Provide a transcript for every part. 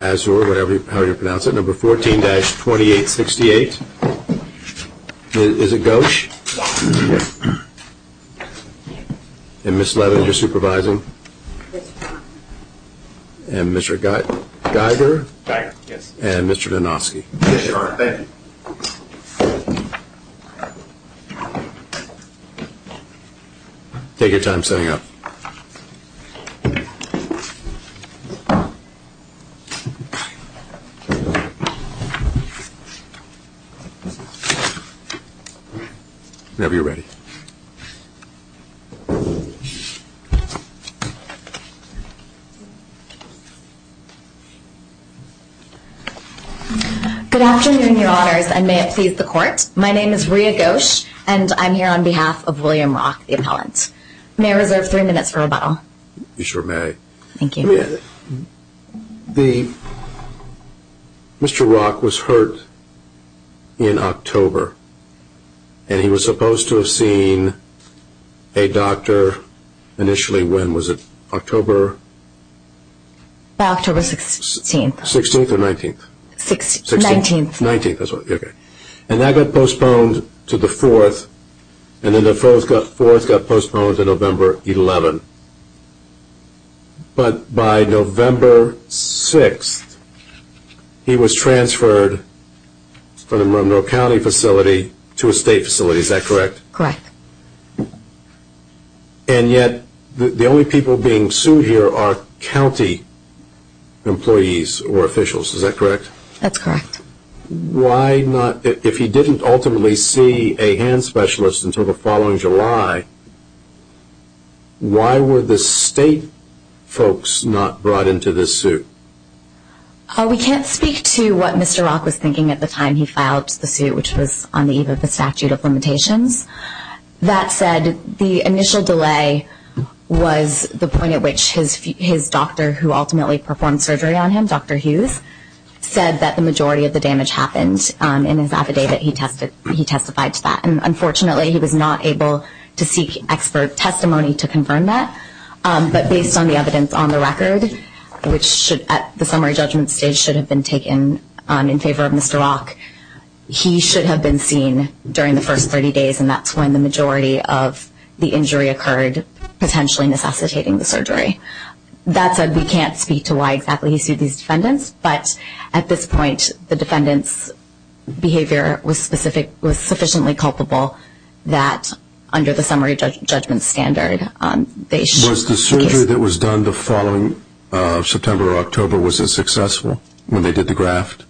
or however you pronounce it, number 14-2868. Is it Ghosh? Yes. And Ms. Levin, you're supervising? Yes. And Mr. Geiger? Geiger, yes. And Mr. Donofsky? Yes, Your Honor. Thank you. Take your time setting up. Whenever you're ready. Good afternoon, Your Honors, and may it please the Court. My name is Rhea Ghosh, and I'm here on behalf of William Rock, the appellant. May I reserve three minutes for rebuttal? You sure may. Thank you. Mr. Rock was hurt in October, and he was supposed to have seen a doctor initially when? Was it October? October 16th. 16th or 19th? 19th. And that got postponed to the 4th, and then the 4th got postponed to November 11th. But by November 6th, he was transferred from Monroe County facility to a state facility, is that correct? Correct. And yet, the only people being sued here are county employees or officials, is that correct? That's correct. Why not, if he didn't ultimately see a hand specialist until the following July, why were the state folks not brought into this suit? We can't speak to what Mr. Rock was thinking at the time he filed the suit, which was on the eve of the statute of limitations. That said, the initial delay was the point at which his doctor, who ultimately performed surgery on him, Dr. Hughes, said that the majority of the damage happened in his affidavit, he testified to that. Unfortunately, he was not able to seek expert testimony to confirm that. But based on the evidence on the record, which at the summary judgment stage should have been taken in favor of Mr. Rock, he should have been seen during the first 30 days, and that's when the majority of the injury occurred, potentially necessitating the surgery. That said, we can't speak to why exactly he sued these defendants, but at this point, the defendants' behavior was sufficiently culpable that under the summary judgment standard, they should be sued. Was the surgery that was done the following September or October, was it successful when they did the graft?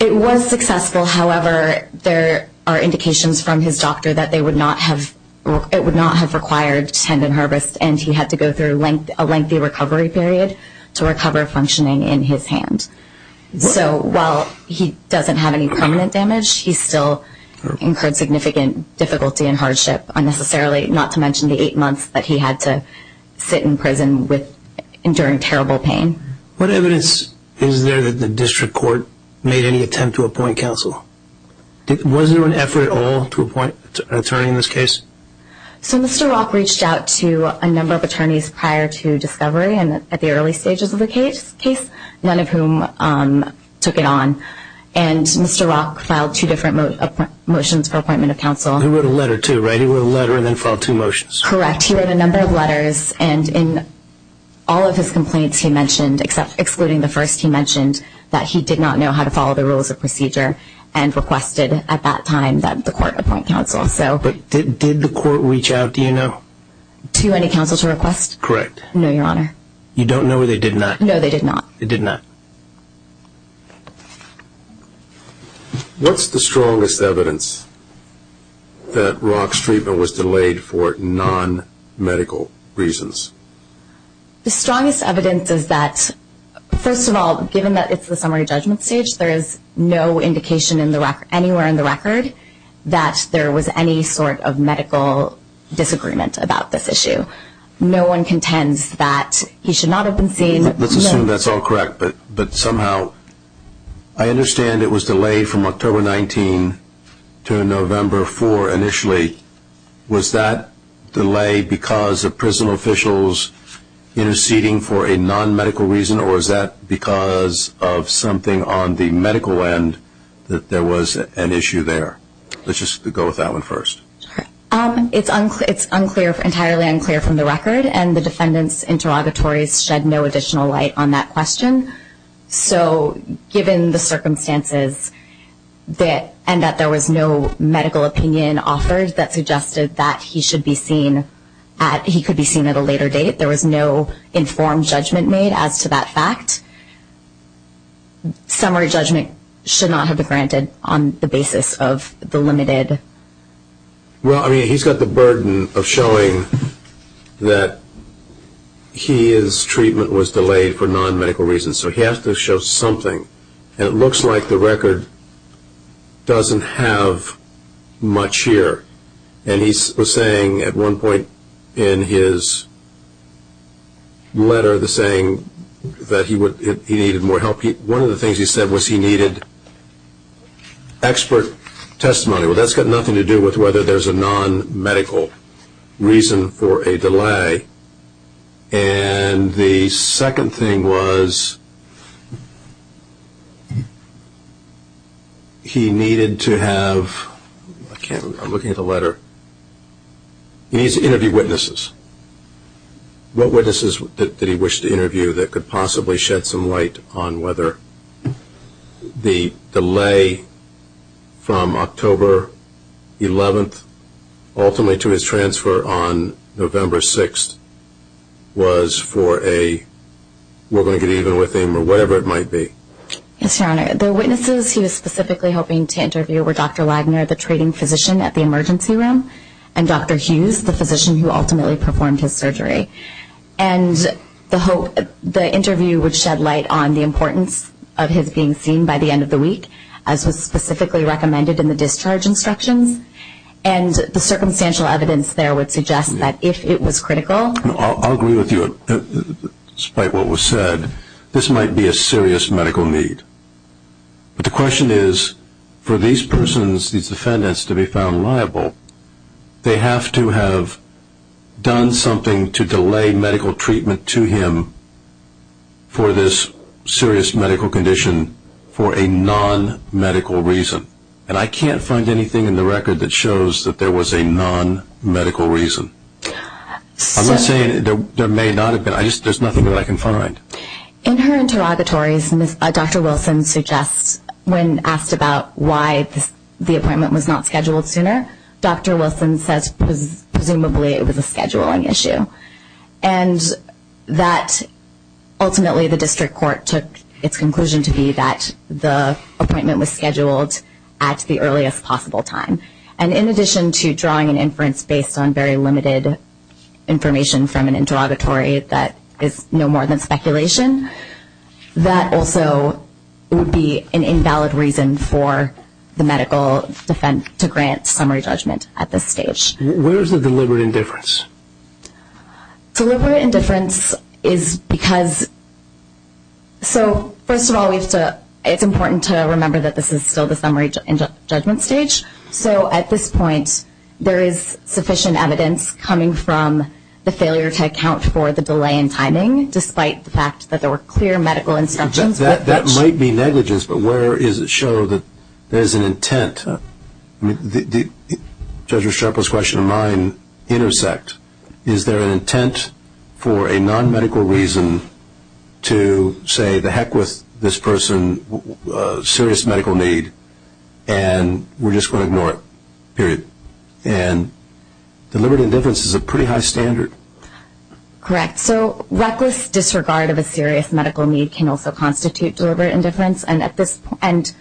It was successful, however, there are indications from his doctor that it would not have required tendon harvest, and he had to go through a lengthy recovery period to recover functioning in his hand. So while he doesn't have any permanent damage, he still incurred significant difficulty and hardship, not to mention the eight months that he had to sit in prison enduring terrible pain. What evidence is there that the district court made any attempt to appoint counsel? Was there an effort at all to appoint an attorney in this case? So Mr. Rock reached out to a number of attorneys prior to discovery and at the early stages of the case, none of whom took it on, and Mr. Rock filed two different motions for appointment of counsel. He wrote a letter too, right? He wrote a letter and then filed two motions. Correct. He wrote a number of letters and in all of his complaints he mentioned, except excluding the first, he mentioned that he did not know how to follow the rules of procedure and requested at that time that the court appoint counsel. But did the court reach out to you? To any counsel to request? Correct. No, Your Honor. You don't know they did not? They did not. What's the strongest evidence that Rock's treatment was delayed for non-medical reasons? The strongest evidence is that, first of all, given that it's the summary judgment stage, there is no indication anywhere in the record that there was any sort of medical disagreement about this issue. No one contends that he should not have been seen. Let's assume that's all correct, but somehow I understand it was delayed from October 19 to November 4 initially. Was that delay because of prison officials interceding for a non-medical reason or is that because of something on the medical end that there was an issue there? Let's just go with that one first. It's entirely unclear from the record and the defendant's interrogatories shed no additional light on that question. So given the circumstances and that there was no medical opinion offered that suggested that he could be seen at a later date, there was no informed judgment made as to that fact. Summary judgment should not have been granted on the basis of the limited... Well, I mean, he's got the burden of showing that his treatment was delayed for non-medical reasons, so he has to show something. It looks like the record doesn't have much here. And he was saying at one point in his letter that he needed more help. One of the things he said was he needed expert testimony. Well, that's got nothing to do with whether there's a non-medical reason for a delay. And the second thing was he needed to have... I'm looking at the letter. He needs to interview witnesses. What witnesses did he wish to interview that could possibly shed some light on whether the delay from October 11th ultimately to his transfer on November 6th was for a, we're going to get even with him, or whatever it might be? Yes, Your Honor. The witnesses he was specifically hoping to interview were Dr. Wagner, the treating physician at the emergency room, and Dr. Hughes, the physician who ultimately performed his surgery. And the interview would shed light on the importance of his being seen by the end of the week, as was specifically recommended in the discharge instructions. And the circumstantial evidence there would suggest that if it was critical... I'll agree with you, despite what was said, this might be a serious medical need. But the question is, for these persons, these defendants, to be found liable, they have to have done something to delay medical treatment to him for this serious medical condition for a non-medical reason. And I can't find anything in the record that shows that there was a non-medical reason. I'm not saying there may not have been, there's nothing that I can find. In her interrogatories, Dr. Wilson suggests when asked about why the appointment was not scheduled sooner, Dr. Wilson says presumably it was a scheduling issue. And that ultimately the district court took its conclusion to be that the appointment was scheduled at the earliest possible time. And in addition to drawing an inference based on very limited information from an interrogatory that is no more than speculation, that also would be an invalid reason for the medical defense to grant summary judgment at this stage. Where is the deliberate indifference? Deliberate indifference is because... So, first of all, it's important to remember that this is still the summary judgment stage. So at this point, there is sufficient evidence coming from the failure to account for the delay in timing, despite the fact that there were clear medical instructions. That might be negligence, but where does it show that there is an intent? Judge Restrepo's question and mine intersect. Is there an intent for a non-medical reason to say, the heck with this person, serious medical need, and we're just going to ignore it, period. And deliberate indifference is a pretty high standard. Correct. So, reckless disregard of a serious medical need can also constitute deliberate indifference. And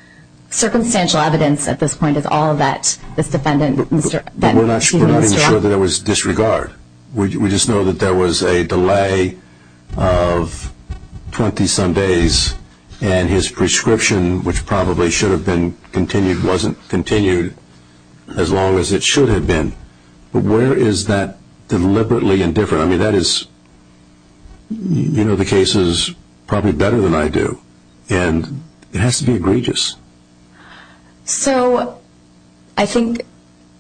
circumstantial evidence at this point is all that this defendant... But we're not even sure that it was disregard. We just know that there was a delay of 20 some days, and his prescription, which probably should have been continued, wasn't continued as long as it should have been. But where is that deliberately indifferent? I mean, that is, you know, the case is probably better than I do. And it has to be egregious. So, I think,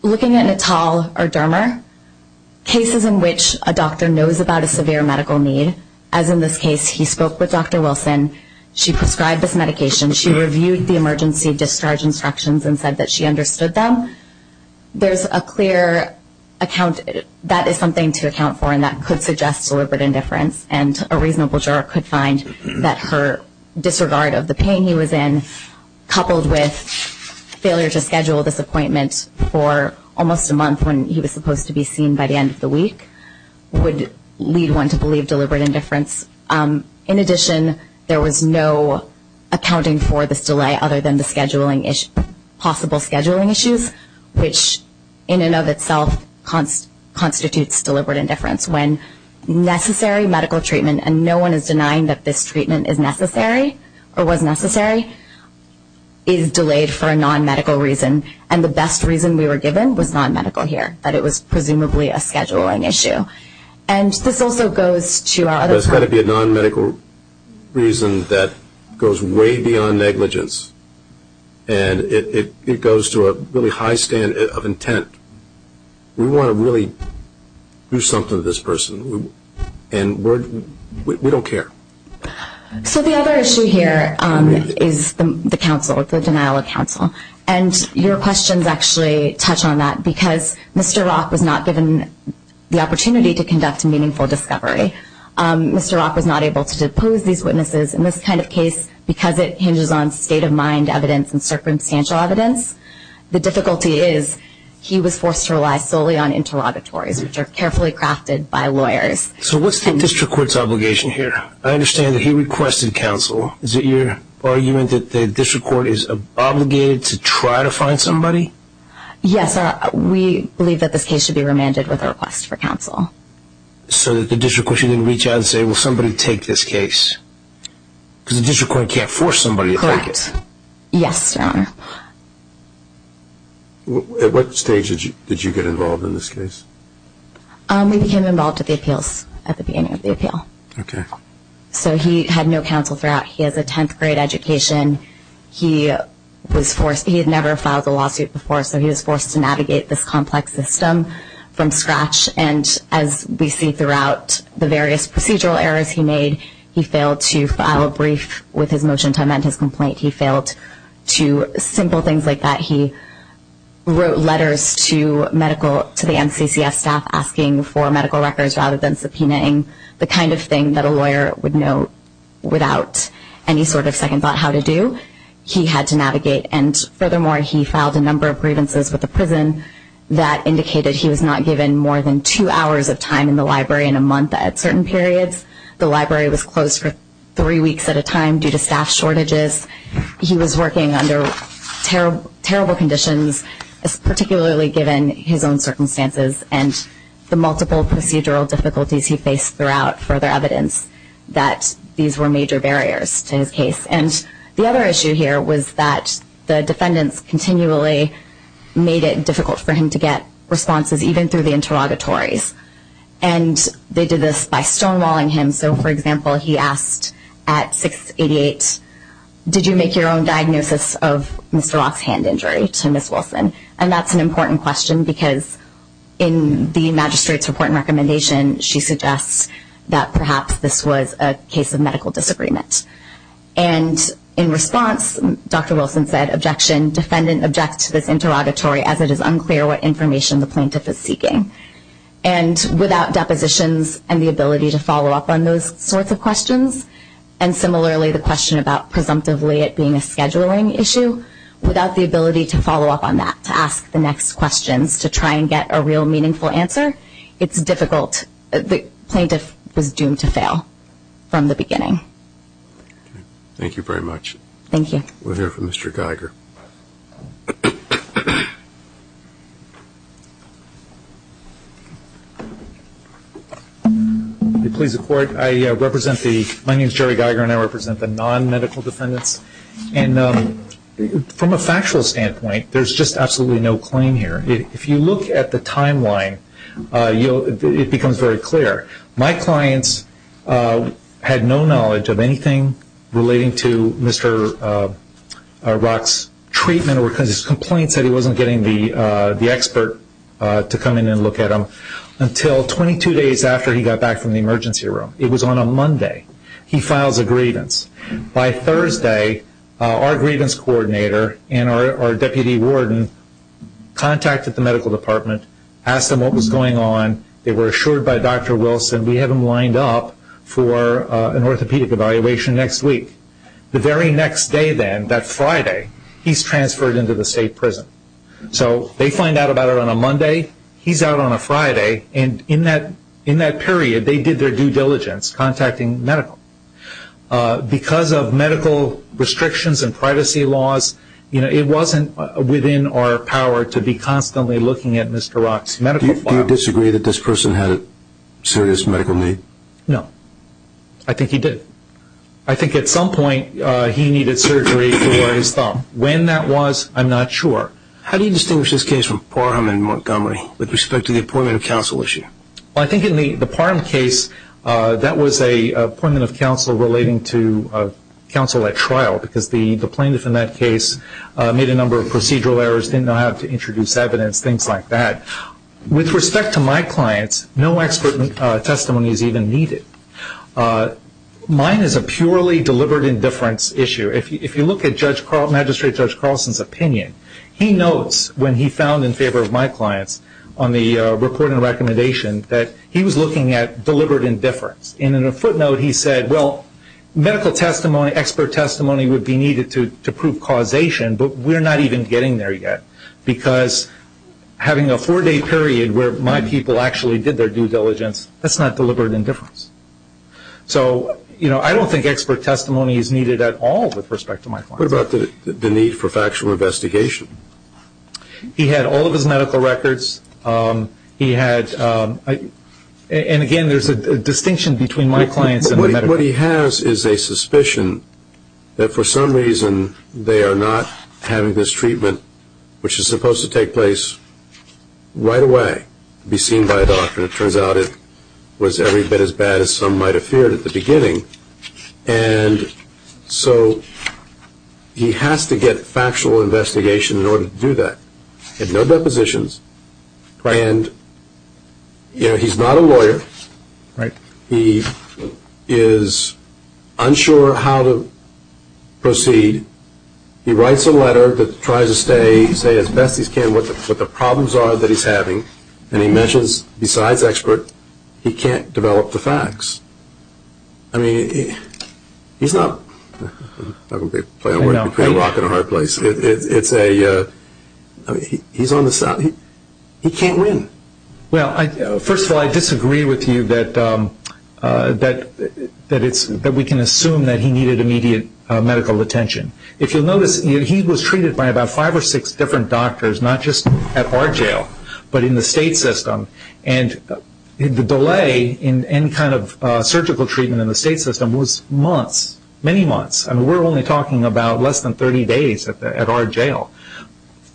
looking at Natal or Dermer, cases in which a doctor knows about a severe medical need, as in this case, he spoke with Dr. Wilson. She prescribed this medication. She reviewed the emergency discharge instructions and said that she understood them. There's a clear account, that is something to account for, and that could suggest deliberate indifference. And a reasonable juror could find that her disregard of the pain he was in, coupled with failure to schedule this appointment for almost a month when he was supposed to be seen by the end of the week, would lead one to believe deliberate indifference. In addition, there was no accounting for this delay other than the possible scheduling issues, which in and of itself constitutes deliberate indifference. When necessary medical treatment, and no one is denying that this treatment is necessary or was necessary, is delayed for a non-medical reason. And the best reason we were given was non-medical here, that it was presumably a scheduling issue. And this also goes to our other... There's got to be a non-medical reason that goes way beyond negligence. And it goes to a really high standard of intent. We want to really do something to this person, and we don't care. So the other issue here is the denial of counsel. And your questions actually touch on that because Mr. Rock was not given the opportunity to conduct meaningful discovery. Mr. Rock was not able to depose these witnesses in this kind of case because it hinges on state of mind evidence and circumstantial evidence. The difficulty is he was forced to rely solely on interrogatories, which are carefully crafted by lawyers. So what's the district court's obligation here? I understand that he requested counsel. Is it your argument that the district court is obligated to try to find somebody? Yes, sir. We believe that this case should be remanded with a request for counsel. So that the district court shouldn't reach out and say, well, somebody take this case. Because the district court can't force somebody to take it. Correct. At what stage did you get involved in this case? We became involved at the appeals, at the beginning of the appeal. So he had no counsel throughout. He has a 10th grade education. He had never filed a lawsuit before, so he was forced to navigate this complex system from scratch. And as we see throughout the various procedural errors he made, he failed to file a brief with his motion to amend his complaint. He failed to simple things like that. He wrote letters to the MCCS staff asking for medical records rather than subpoenaing. The kind of thing that a lawyer would know without any sort of second thought how to do. He had to navigate. And furthermore, he filed a number of grievances with the prison that indicated he was not given more than two hours of time in the library in a month at certain periods. The library was closed for three weeks at a time due to staff shortages. He was working under terrible conditions, particularly given his own circumstances and the multiple procedural difficulties he faced throughout. Further evidence that these were major barriers to his case. And the other issue here was that the defendants continually made it difficult for him to get responses even through the interrogatories. And they did this by stonewalling him. So for example, he asked at 688, did you make your own diagnosis of Mr. Roth's hand injury to Ms. Wilson? And that's an important question because in the magistrate's report and recommendation, she suggests that perhaps this was a case of medical disagreement. And in response, Dr. Wilson said, objection, defendant objects to this interrogatory as it is unclear what information the plaintiff is seeking. And without depositions and the ability to follow up on those sorts of questions, and similarly the question about presumptively it being a scheduling issue, without the ability to follow up on that, to ask the next questions, to try and get a real meaningful answer, it's difficult. The plaintiff was doomed to fail from the beginning. Thank you very much. Thank you. We'll hear from Mr. Geiger. Please report. I represent the, my name is Jerry Geiger and I represent the non-medical defendants. And from a factual standpoint, there's just absolutely no claim here. If you look at the timeline, it becomes very clear. My clients had no knowledge of anything relating to Mr. Roth's treatment because his complaint said he wasn't getting the expert to come in and look at him until 22 days after he got back from the emergency room. It was on a Monday. He files a grievance. By Thursday, our grievance coordinator and our deputy warden contacted the medical department, asked them what was going on. They were assured by Dr. Wilson, we have him lined up for an orthopedic evaluation next week. The very next day then, that Friday, he's transferred into the state prison. So they find out about it on a Monday, he's out on a Friday. And in that period, they did their due diligence contacting medical. Because of medical restrictions and privacy laws, it wasn't within our power to be constantly looking at Mr. Roth's medical files. Do you disagree that this person had a serious medical need? No. I think he did. I think at some point, he needed surgery for his thumb. When that was, I'm not sure. How do you distinguish this case from Parham and Montgomery with respect to the appointment of counsel issue? I think in the Parham case, that was an appointment of counsel relating to counsel at trial because the plaintiff in that case made a number of procedural errors, didn't know how to introduce evidence, things like that. With respect to my clients, no expert testimony is even needed. Mine is a purely deliberate indifference issue. If you look at Magistrate Judge Carlson's opinion, he notes when he found in favor of my clients on the report and recommendation that he was looking at deliberate indifference. And in a footnote, he said, well, medical testimony, expert testimony would be needed to prove causation, but we're not even getting there yet because having a four-day period where my people actually did their due diligence, that's not deliberate indifference. So, you know, I don't think expert testimony is needed at all with respect to my clients. What about the need for factual investigation? He had all of his medical records. He had, and again, there's a distinction between my clients and the medical records. What he has is a suspicion that for some reason they are not having this treatment, which is supposed to take place right away, be seen by a doctor. And it turns out it was every bit as bad as some might have feared at the beginning. And so he has to get factual investigation in order to do that. He had no depositions. And, you know, he's not a lawyer. He is unsure how to proceed. He writes a letter that tries to say as best he can what the problems are that he's having. And he mentions besides expert, he can't develop the facts. I mean, he's not, I don't want to play a rock and a hard place. It's a, he's on the side, he can't win. Well, first of all, I disagree with you that we can assume that he needed immediate medical attention. If you'll notice, he was treated by about five or six different doctors, not just at our jail, but in the state system. And the delay in any kind of surgical treatment in the state system was months, many months. I mean, we're only talking about less than 30 days at our jail.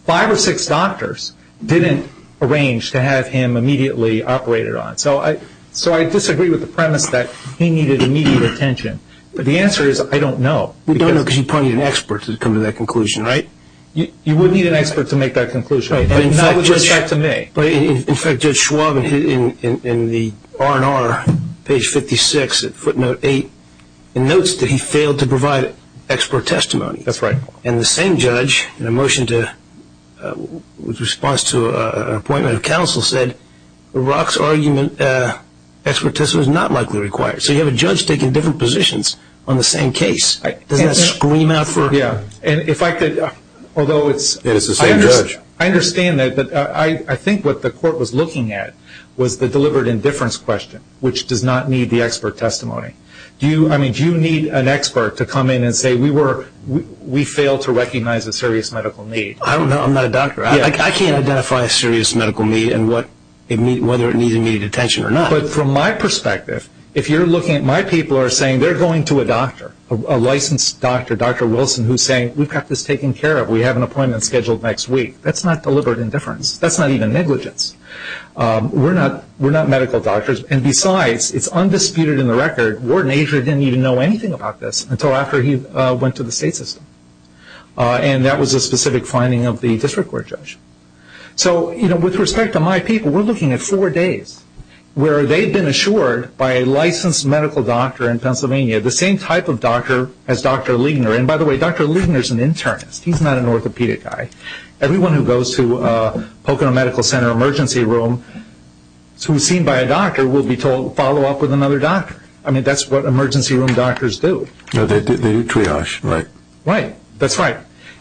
Five or six doctors didn't arrange to have him immediately operated on. So I disagree with the premise that he needed immediate attention. But the answer is I don't know. You don't know because you probably need an expert to come to that conclusion, right? You would need an expert to make that conclusion. Not with respect to me. In fact, Judge Schwab in the R&R, page 56, footnote 8, notes that he failed to provide expert testimony. That's right. And the same judge, in a motion to, in response to an appointment of counsel, said Rock's argument, expert testimony was not likely required. So you have a judge taking different positions on the same case. Doesn't that scream out for... Yeah, and if I could, although it's... I understand that, but I think what the court was looking at was the delivered indifference question, which does not need the expert testimony. Do you, I mean, do you need an expert to come in and say we were, we failed to recognize a serious medical need? I don't know. I'm not a doctor. I can't identify a serious medical need and what, whether it needs immediate attention or not. But from my perspective, if you're looking at, my people are saying they're going to a doctor, a licensed doctor, Dr. Wilson, who's saying we've got this taken care of. We have an appointment scheduled next week. That's delivered indifference. That's not even negligence. We're not, we're not medical doctors. And besides, it's undisputed in the record, Warden Asher didn't even know anything about this until after he went to the state system. And that was a specific finding of the district court judge. So, you know, with respect to my people, we're looking at four days where they've been assured by a licensed medical doctor in Pennsylvania, the same type of doctor as Dr. Liegner. And by the way, Dr. Liegner's an internist. He's not an orthopedic guy. He's in a Pocono Medical Center emergency room. So he's seen by a doctor, will be told, follow up with another doctor. I mean, that's what emergency room doctors do. They do triage, right? Right. That's right.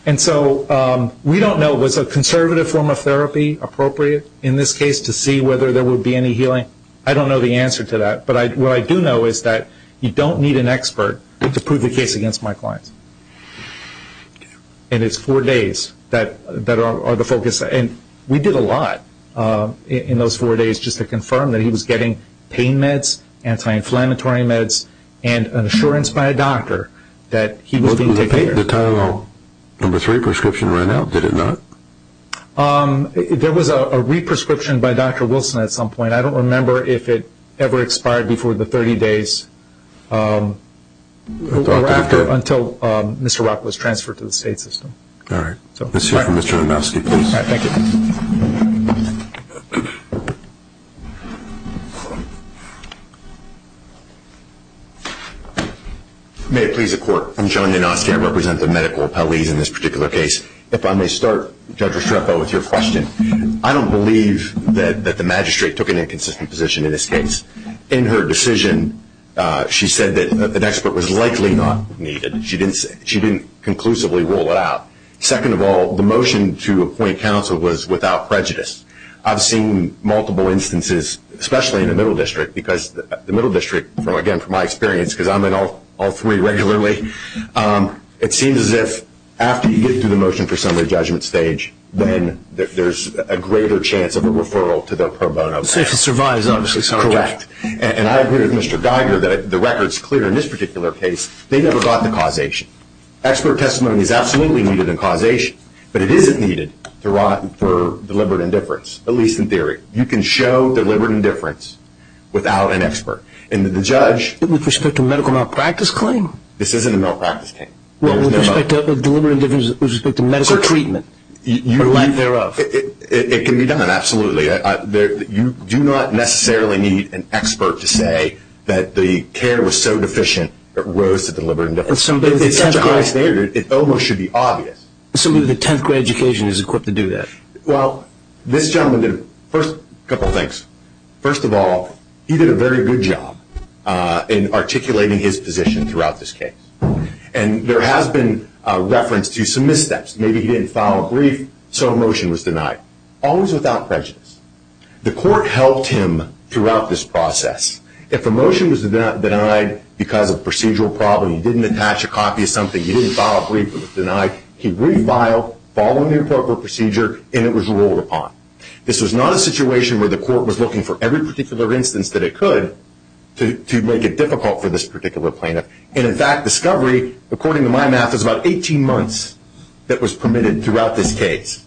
And so we don't know, was a conservative form of therapy appropriate in this case to see whether there would be any healing? I don't know the answer to that. But what I do know is that you don't need an expert to prove a case against my clients. And it's four days that are the focus. And we did a lot in those four days just to confirm that he was getting pain meds, anti-inflammatory meds, and an assurance by a doctor that he was being taken care of. The Tylenol No. 3 prescription ran out, did it not? There was a re-prescription by Dr. Wilson at some point. I don't remember if it ever expired before the 30 days. Or after, until Mr. Rock was transferred to the state system. All right. Let's hear from Mr. Lemowski, please. All right. Thank you. May it please the Court. I'm John Janoski. I represent the medical appellees in this particular case. If I may start, Judge Restrepo, with your question. I don't believe that the magistrate took an inconsistent position in this case. In her decision, she said that an expert was likely not needed. She didn't conclusively rule it out. Second of all, the motion to appoint counsel was without prejudice. I've seen multiple instances, especially in the Middle District, because the Middle District, again, from my experience, because I'm in all three regularly, it seems as if after you get through the motion for summary judgment stage, then there's a greater chance of a referral to the pro bono. I would say if it survives, obviously. Correct. And I agree with Mr. Geiger that the record's clear in this particular case. They never got the causation. Expert testimony is absolutely needed in causation. But it isn't needed for deliberate indifference, at least in theory. You can show deliberate indifference without an expert. And the judge... With respect to a medical malpractice claim? This isn't a malpractice claim. With respect to medical treatment? It can be done, absolutely. You do not necessarily need an expert to say that the care was so deficient, it rose to deliberate indifference. If it's such a high standard, it almost should be obvious. Assuming the 10th grade education is equipped to do that. Well, this gentleman did a couple of things. First of all, he did a very good job in articulating his position throughout this case. And there has been reference to some missteps. Maybe he didn't file a brief, so a motion was denied. Always without prejudice. The court helped him throughout this process. If a motion was denied because of a procedural problem, he didn't attach a copy of something, he didn't file a brief that was denied, he re-filed, following the appropriate procedure, and it was ruled upon. This was not a situation where the court was looking for every particular instance that it could to make it difficult for this particular plaintiff. And in fact, discovery, according to my math, is about 18 months that was permitted throughout this case.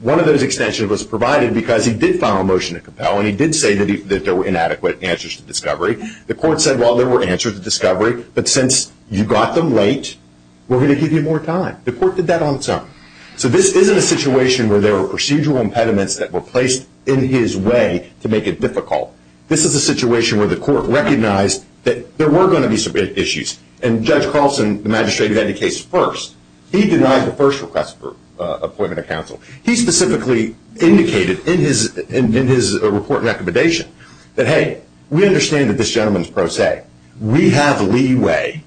One of those extensions was provided because he did file a motion to compel, and he did say that there were inadequate answers to discovery. The court said, well, there were answers to discovery, but since you got them late, we're going to give you more time. The court did that on its own. So this isn't a situation where there were procedural impediments that were placed in his way to make it difficult. This is a situation where the court recognized that there were going to be some issues. And Judge Carlson, the magistrate, had the case first. He denied the first request for appointment of counsel. He specifically indicated in his report recommendation that, hey, we understand that this gentleman is pro se. We have leeway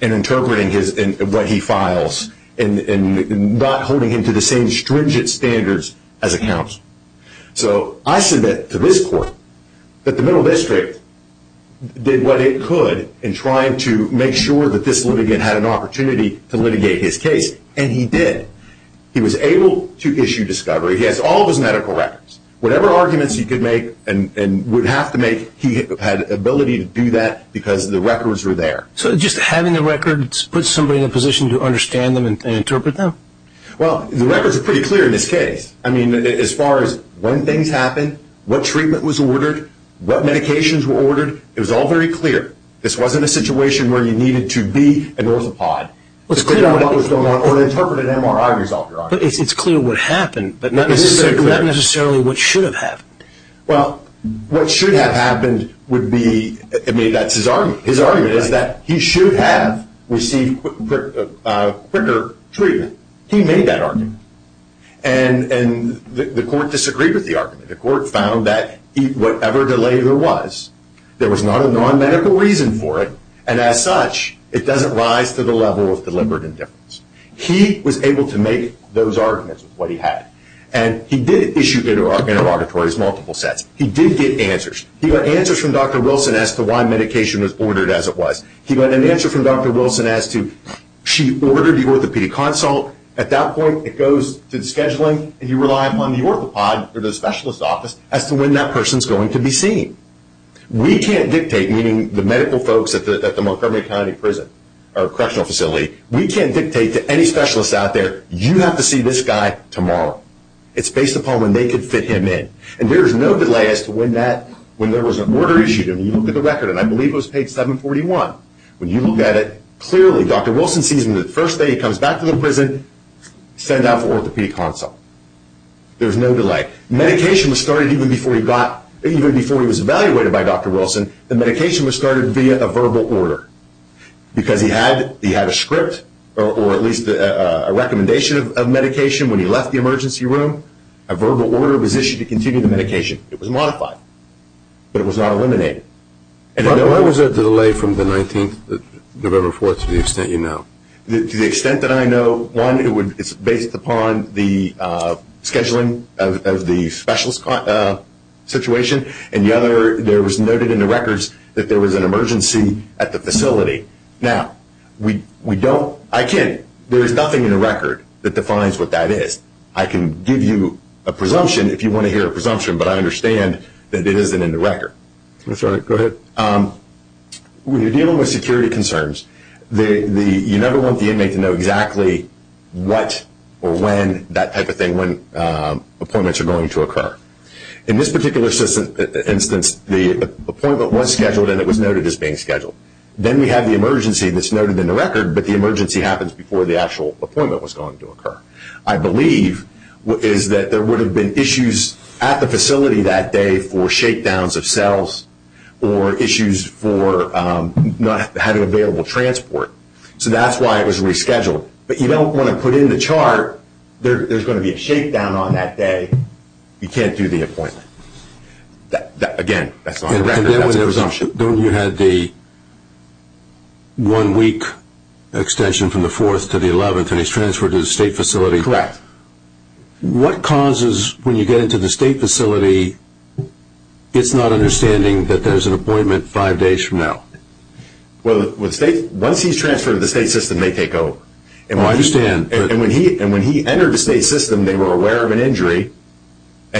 in interpreting what he files and not holding him to the same stringent standards as a counsel. So I submit to this court that the Middle District did what it could in trying to make sure that this litigant had an opportunity to litigate his case, and he did. He was able to issue discovery. He has all of his medical records. Whatever arguments he could make and would have to make, he had the ability to do that because the records were there. So just having the records puts somebody in a position to understand them and interpret them? Well, the records are pretty clear in this case. I mean, as far as when things happened, what treatment was ordered, what medications were ordered, it was all very clear. This wasn't a situation where you needed to be an orthopod. It was clear what was going on, or an interpreted MRI result. But it's clear what happened, but not necessarily what should have happened. Well, what should have happened would be, I mean, that's his argument. His argument is that he should have received quicker treatment. He made that argument. And the court disagreed with the argument. The court found that whatever delay there was, there was not a non-medical reason for it, and as such, it doesn't rise to the level of deliberate indifference. He was able to make those arguments with what he had. And he did issue interrogatories multiple sets. He did get answers. He got answers from Dr. Wilson as to why medication was ordered as it was. He got an answer from Dr. Wilson as to, she ordered the orthopedic consult. At that point, it goes to the scheduling, and you rely upon the orthopod or the specialist office as to when that person is going to be seen. We can't dictate, meaning the medical folks at the Montgomery County Correctional Facility, we can't dictate to any specialist out there, you have to see this guy tomorrow. It's based upon when they can fit him in. And there is no delay as to when there was an order issued. And you look at the record, and I believe it was page 741. When you look at it, clearly Dr. Wilson sees him the first day he comes back to the prison, send out for orthopedic consult. There's no delay. Medication was started even before he got, even before he was evaluated by Dr. Wilson, the medication was started via a verbal order. Because he had a script, or at least a recommendation of medication when he left the emergency room. A verbal order was issued to continue the medication. It was modified. But it was not eliminated. Why was there a delay from the 19th of November 4th to the extent you know? To the extent that I know, one, it's based upon the scheduling of the specialist situation. And the other, there was noted in the records that there was an emergency at the facility. Now, we don't, I can't, there is nothing in the record that defines what that is. I can give you a presumption if you want to hear a presumption, but I understand that it isn't in the record. Go ahead. When you're dealing with security concerns, you never want the inmate to know exactly what or when that type of thing, or when appointments are going to occur. In this particular instance, the appointment was scheduled and it was noted as being scheduled. Then we have the emergency that's noted in the record, but the emergency happens before the actual appointment was going to occur. I believe is that there would have been issues at the facility that day for shakedowns of cells or issues for not having available transport. So that's why it was rescheduled. But you don't want to put in the chart, there's going to be a shakedown on that day. You can't do the appointment. Again, that's not in the record. That's a presumption. And then when you had the one week extension from the 4th to the 11th and he's transferred to the state facility. Correct. What causes, when you get into the state facility, it's not understanding that there's an appointment five days from now. Well, once he's transferred to the state system, they take over. I understand. When he entered the state system, they were aware of an injury. But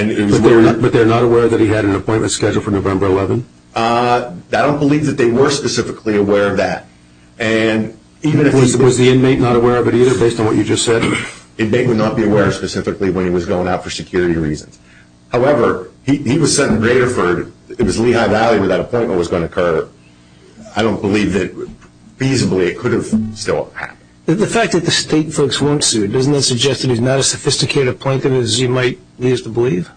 they're not aware that he had an appointment scheduled for November 11th? I don't believe that they were specifically aware of that. Even if he was the inmate not aware of it either, based on what you just said, the inmate would not be aware specifically when he was going out for security reasons. However, he was sent to Graterford. It was Lehigh Valley where that appointment was going to occur. I don't believe that feasibly it could have still happened. The fact that the state folks weren't sued, doesn't that suggest that he's not as sophisticated a plaintiff as you might believe?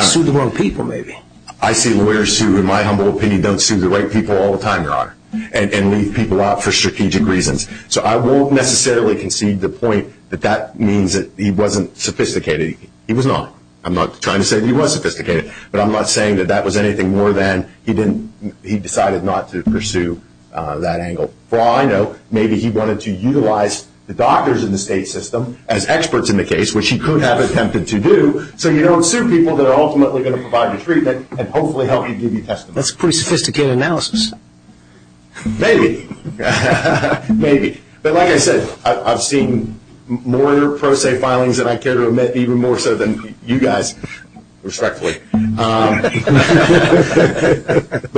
Sued the wrong people, maybe. I see lawyers who, in my humble opinion, don't sue the right people all the time, Your Honor. And leave people out for strategic reasons. So I won't necessarily concede the point that that means that he wasn't sophisticated. He was not. I'm not trying to say that he was sophisticated. But I'm not saying that that was anything more than he decided not to pursue that angle. For all I know, maybe he wanted to utilize the doctors in the state system as experts in the case, which he could have attempted to do, so you don't sue people that are ultimately going to provide you treatment and hopefully help you give you testimony. That's a pretty sophisticated analysis. Maybe. Maybe. But like I said, I've seen more pro se filings than I care to admit, even more so than you guys, respectfully. But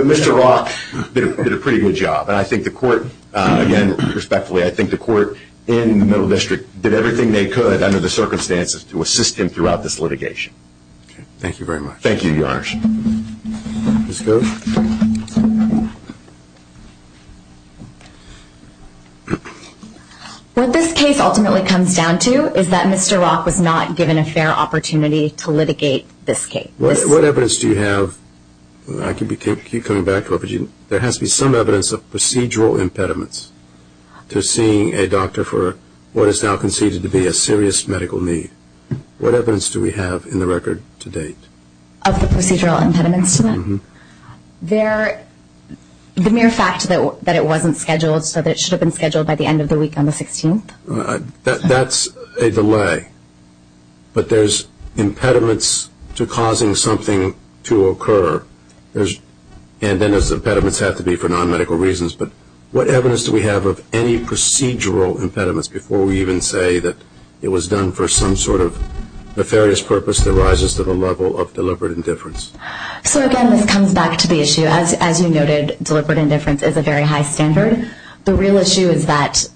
Mr. Rock did a pretty good job. And I think the court, again, respectfully, I think the court in the Middle District did everything they could under the circumstances to assist him throughout this litigation. Thank you very much. Thank you, Your Honors. Ms. Gove? What this case ultimately comes down to is that Mr. Rock was not given a fair opportunity to litigate this case. What evidence do you have? I can keep coming back to it. There has to be some evidence of procedural impediments to seeing a doctor for what is now conceded to be a serious medical need. What evidence do we have in the record to date? Of the procedural impediments to that? Mm-hmm. The mere fact that it wasn't scheduled so that it should have been scheduled by the end of the week on the 16th? That's a delay. But there's impediments to causing something to occur. And then those impediments have to be for non-medical reasons. But what evidence do we have of any procedural impediments before we even say that it was done for some sort of nefarious purpose that rises to the level of deliberate indifference? So, again, this comes back to the issue. As you noted, deliberate indifference is a very high standard. The real issue is that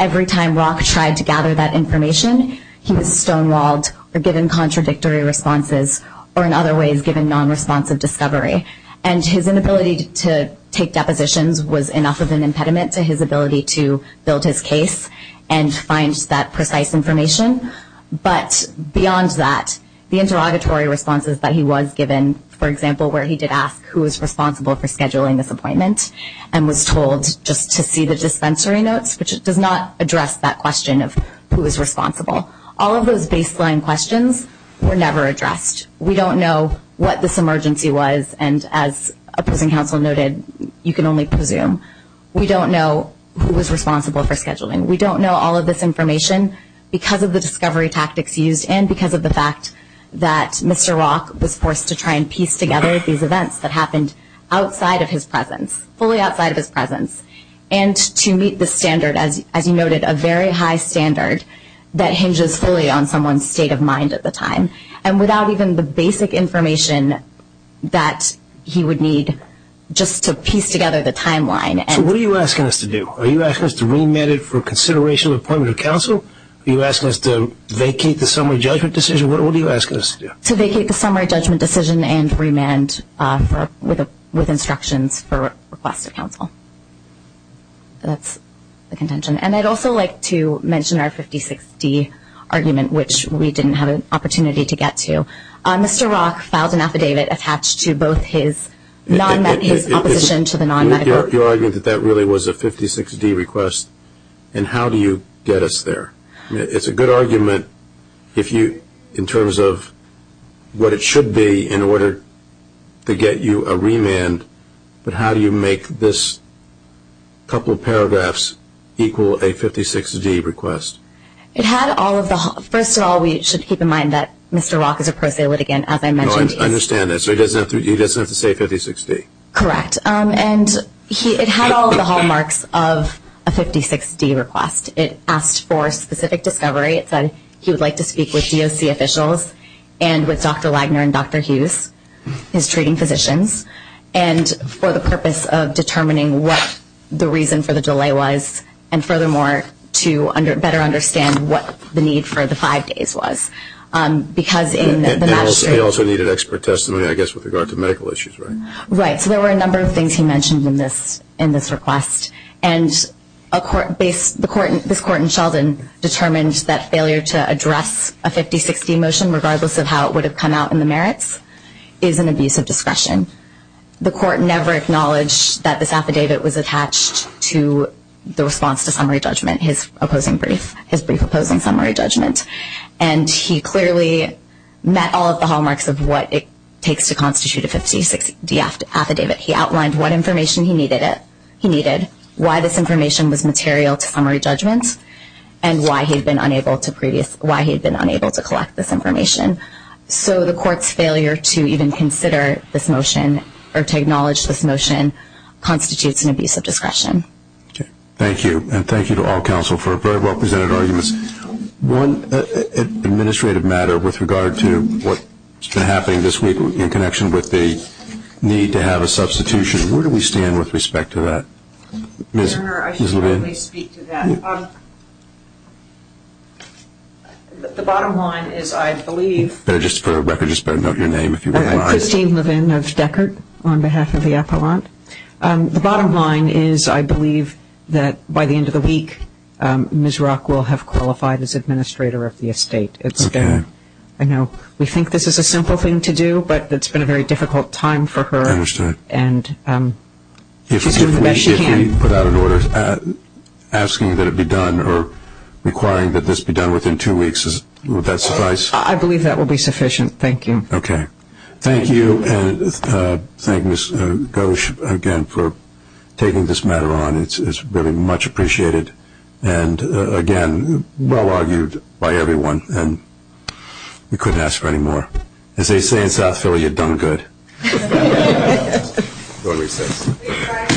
every time Rock tried to gather that information, he was stonewalled or given contradictory responses or, in other ways, given non-responsive discovery. And his inability to take depositions was enough of an impediment to his ability to build his case and find that precise information. But beyond that, the interrogatory responses that he was given, for example, where he did ask who is responsible for scheduling this appointment and was told just to see the dispensary notes, which does not address that question of who is responsible. All of those baseline questions were never addressed. We don't know what this emergency was. And as a prison counsel noted, you can only presume. We don't know who was responsible for scheduling. We don't know all of this information because of the discovery tactics used and because of the fact that Mr. Rock was forced to try and piece together these events that happened outside of his presence, fully outside of his presence. And to meet the standard, as you noted, a very high standard that hinges fully on someone's state of mind at the time. And without even the basic information that he would need just to piece together the timeline. So what are you asking us to do? Are you asking us to remand it for consideration of appointment of counsel? Are you asking us to vacate the summary judgment decision? What are you asking us to do? To vacate the summary judgment decision and remand with instructions for request of counsel. That's the contention. And I'd also like to mention our 50-60 argument, which we didn't have an opportunity to get to. Mr. Rock filed an affidavit attached to both his opposition to the non-medical. You're arguing that that really was a 56-D request. And how do you get us there? It's a good argument in terms of what it should be in order to get you a remand. But how do you make this couple of paragraphs equal a 56-D request? It had all of the hallmarks. First of all, we should keep in mind that Mr. Rock is a pro se litigant, as I mentioned. No, I understand that. So he doesn't have to say 56-D. Correct. And it had all of the hallmarks of a 56-D request. It asked for specific discovery. It said he would like to speak with DOC officials and with Dr. Lagner and Dr. Hughes, his treating physicians, and for the purpose of determining what the reason for the delay was and furthermore, to better understand what the need for the five days was. He also needed expert testimony, I guess, with regard to medical issues, right? Right. So there were a number of things he mentioned in this request. And this Court in Sheldon determined that failure to address a 56-D motion, regardless of how it would have come out in the merits, is an abuse of discretion. The Court never acknowledged that this affidavit was attached to the response to summary judgment, his brief opposing summary judgment. And he clearly met all of the hallmarks of what it takes to constitute a 56-D affidavit. He outlined what information he needed, why this information was material to summary judgment, and why he had been unable to collect this information. So the Court's failure to even consider this motion, or to acknowledge this motion, constitutes an abuse of discretion. Thank you. And thank you to all counsel for very well-presented arguments. One administrative matter with regard to what's been happening this week in connection with the need to have a substitution, where do we stand with respect to that? Your Honor, I should probably speak to that. The bottom line is I believe... Just for the record, just better note your name if you would like. Christine Levin of Deckert, on behalf of the Appellant. The bottom line is I believe that by the end of the week, Ms. Rock will have qualified as administrator of the estate. I know we think this is a simple thing to do, but it's been a very difficult time for her. I understand. And she's doing the best she can. If we put out an order asking that it be done, or requiring that this be done within two weeks, would that suffice? I believe that will be sufficient. Thank you. Okay. Thank you. And thank Ms. Gosch again for taking this matter on. It's really much appreciated. And again, well-argued by everyone. And we couldn't ask for any more. As they say in South Philly, you've done good. We're on recess.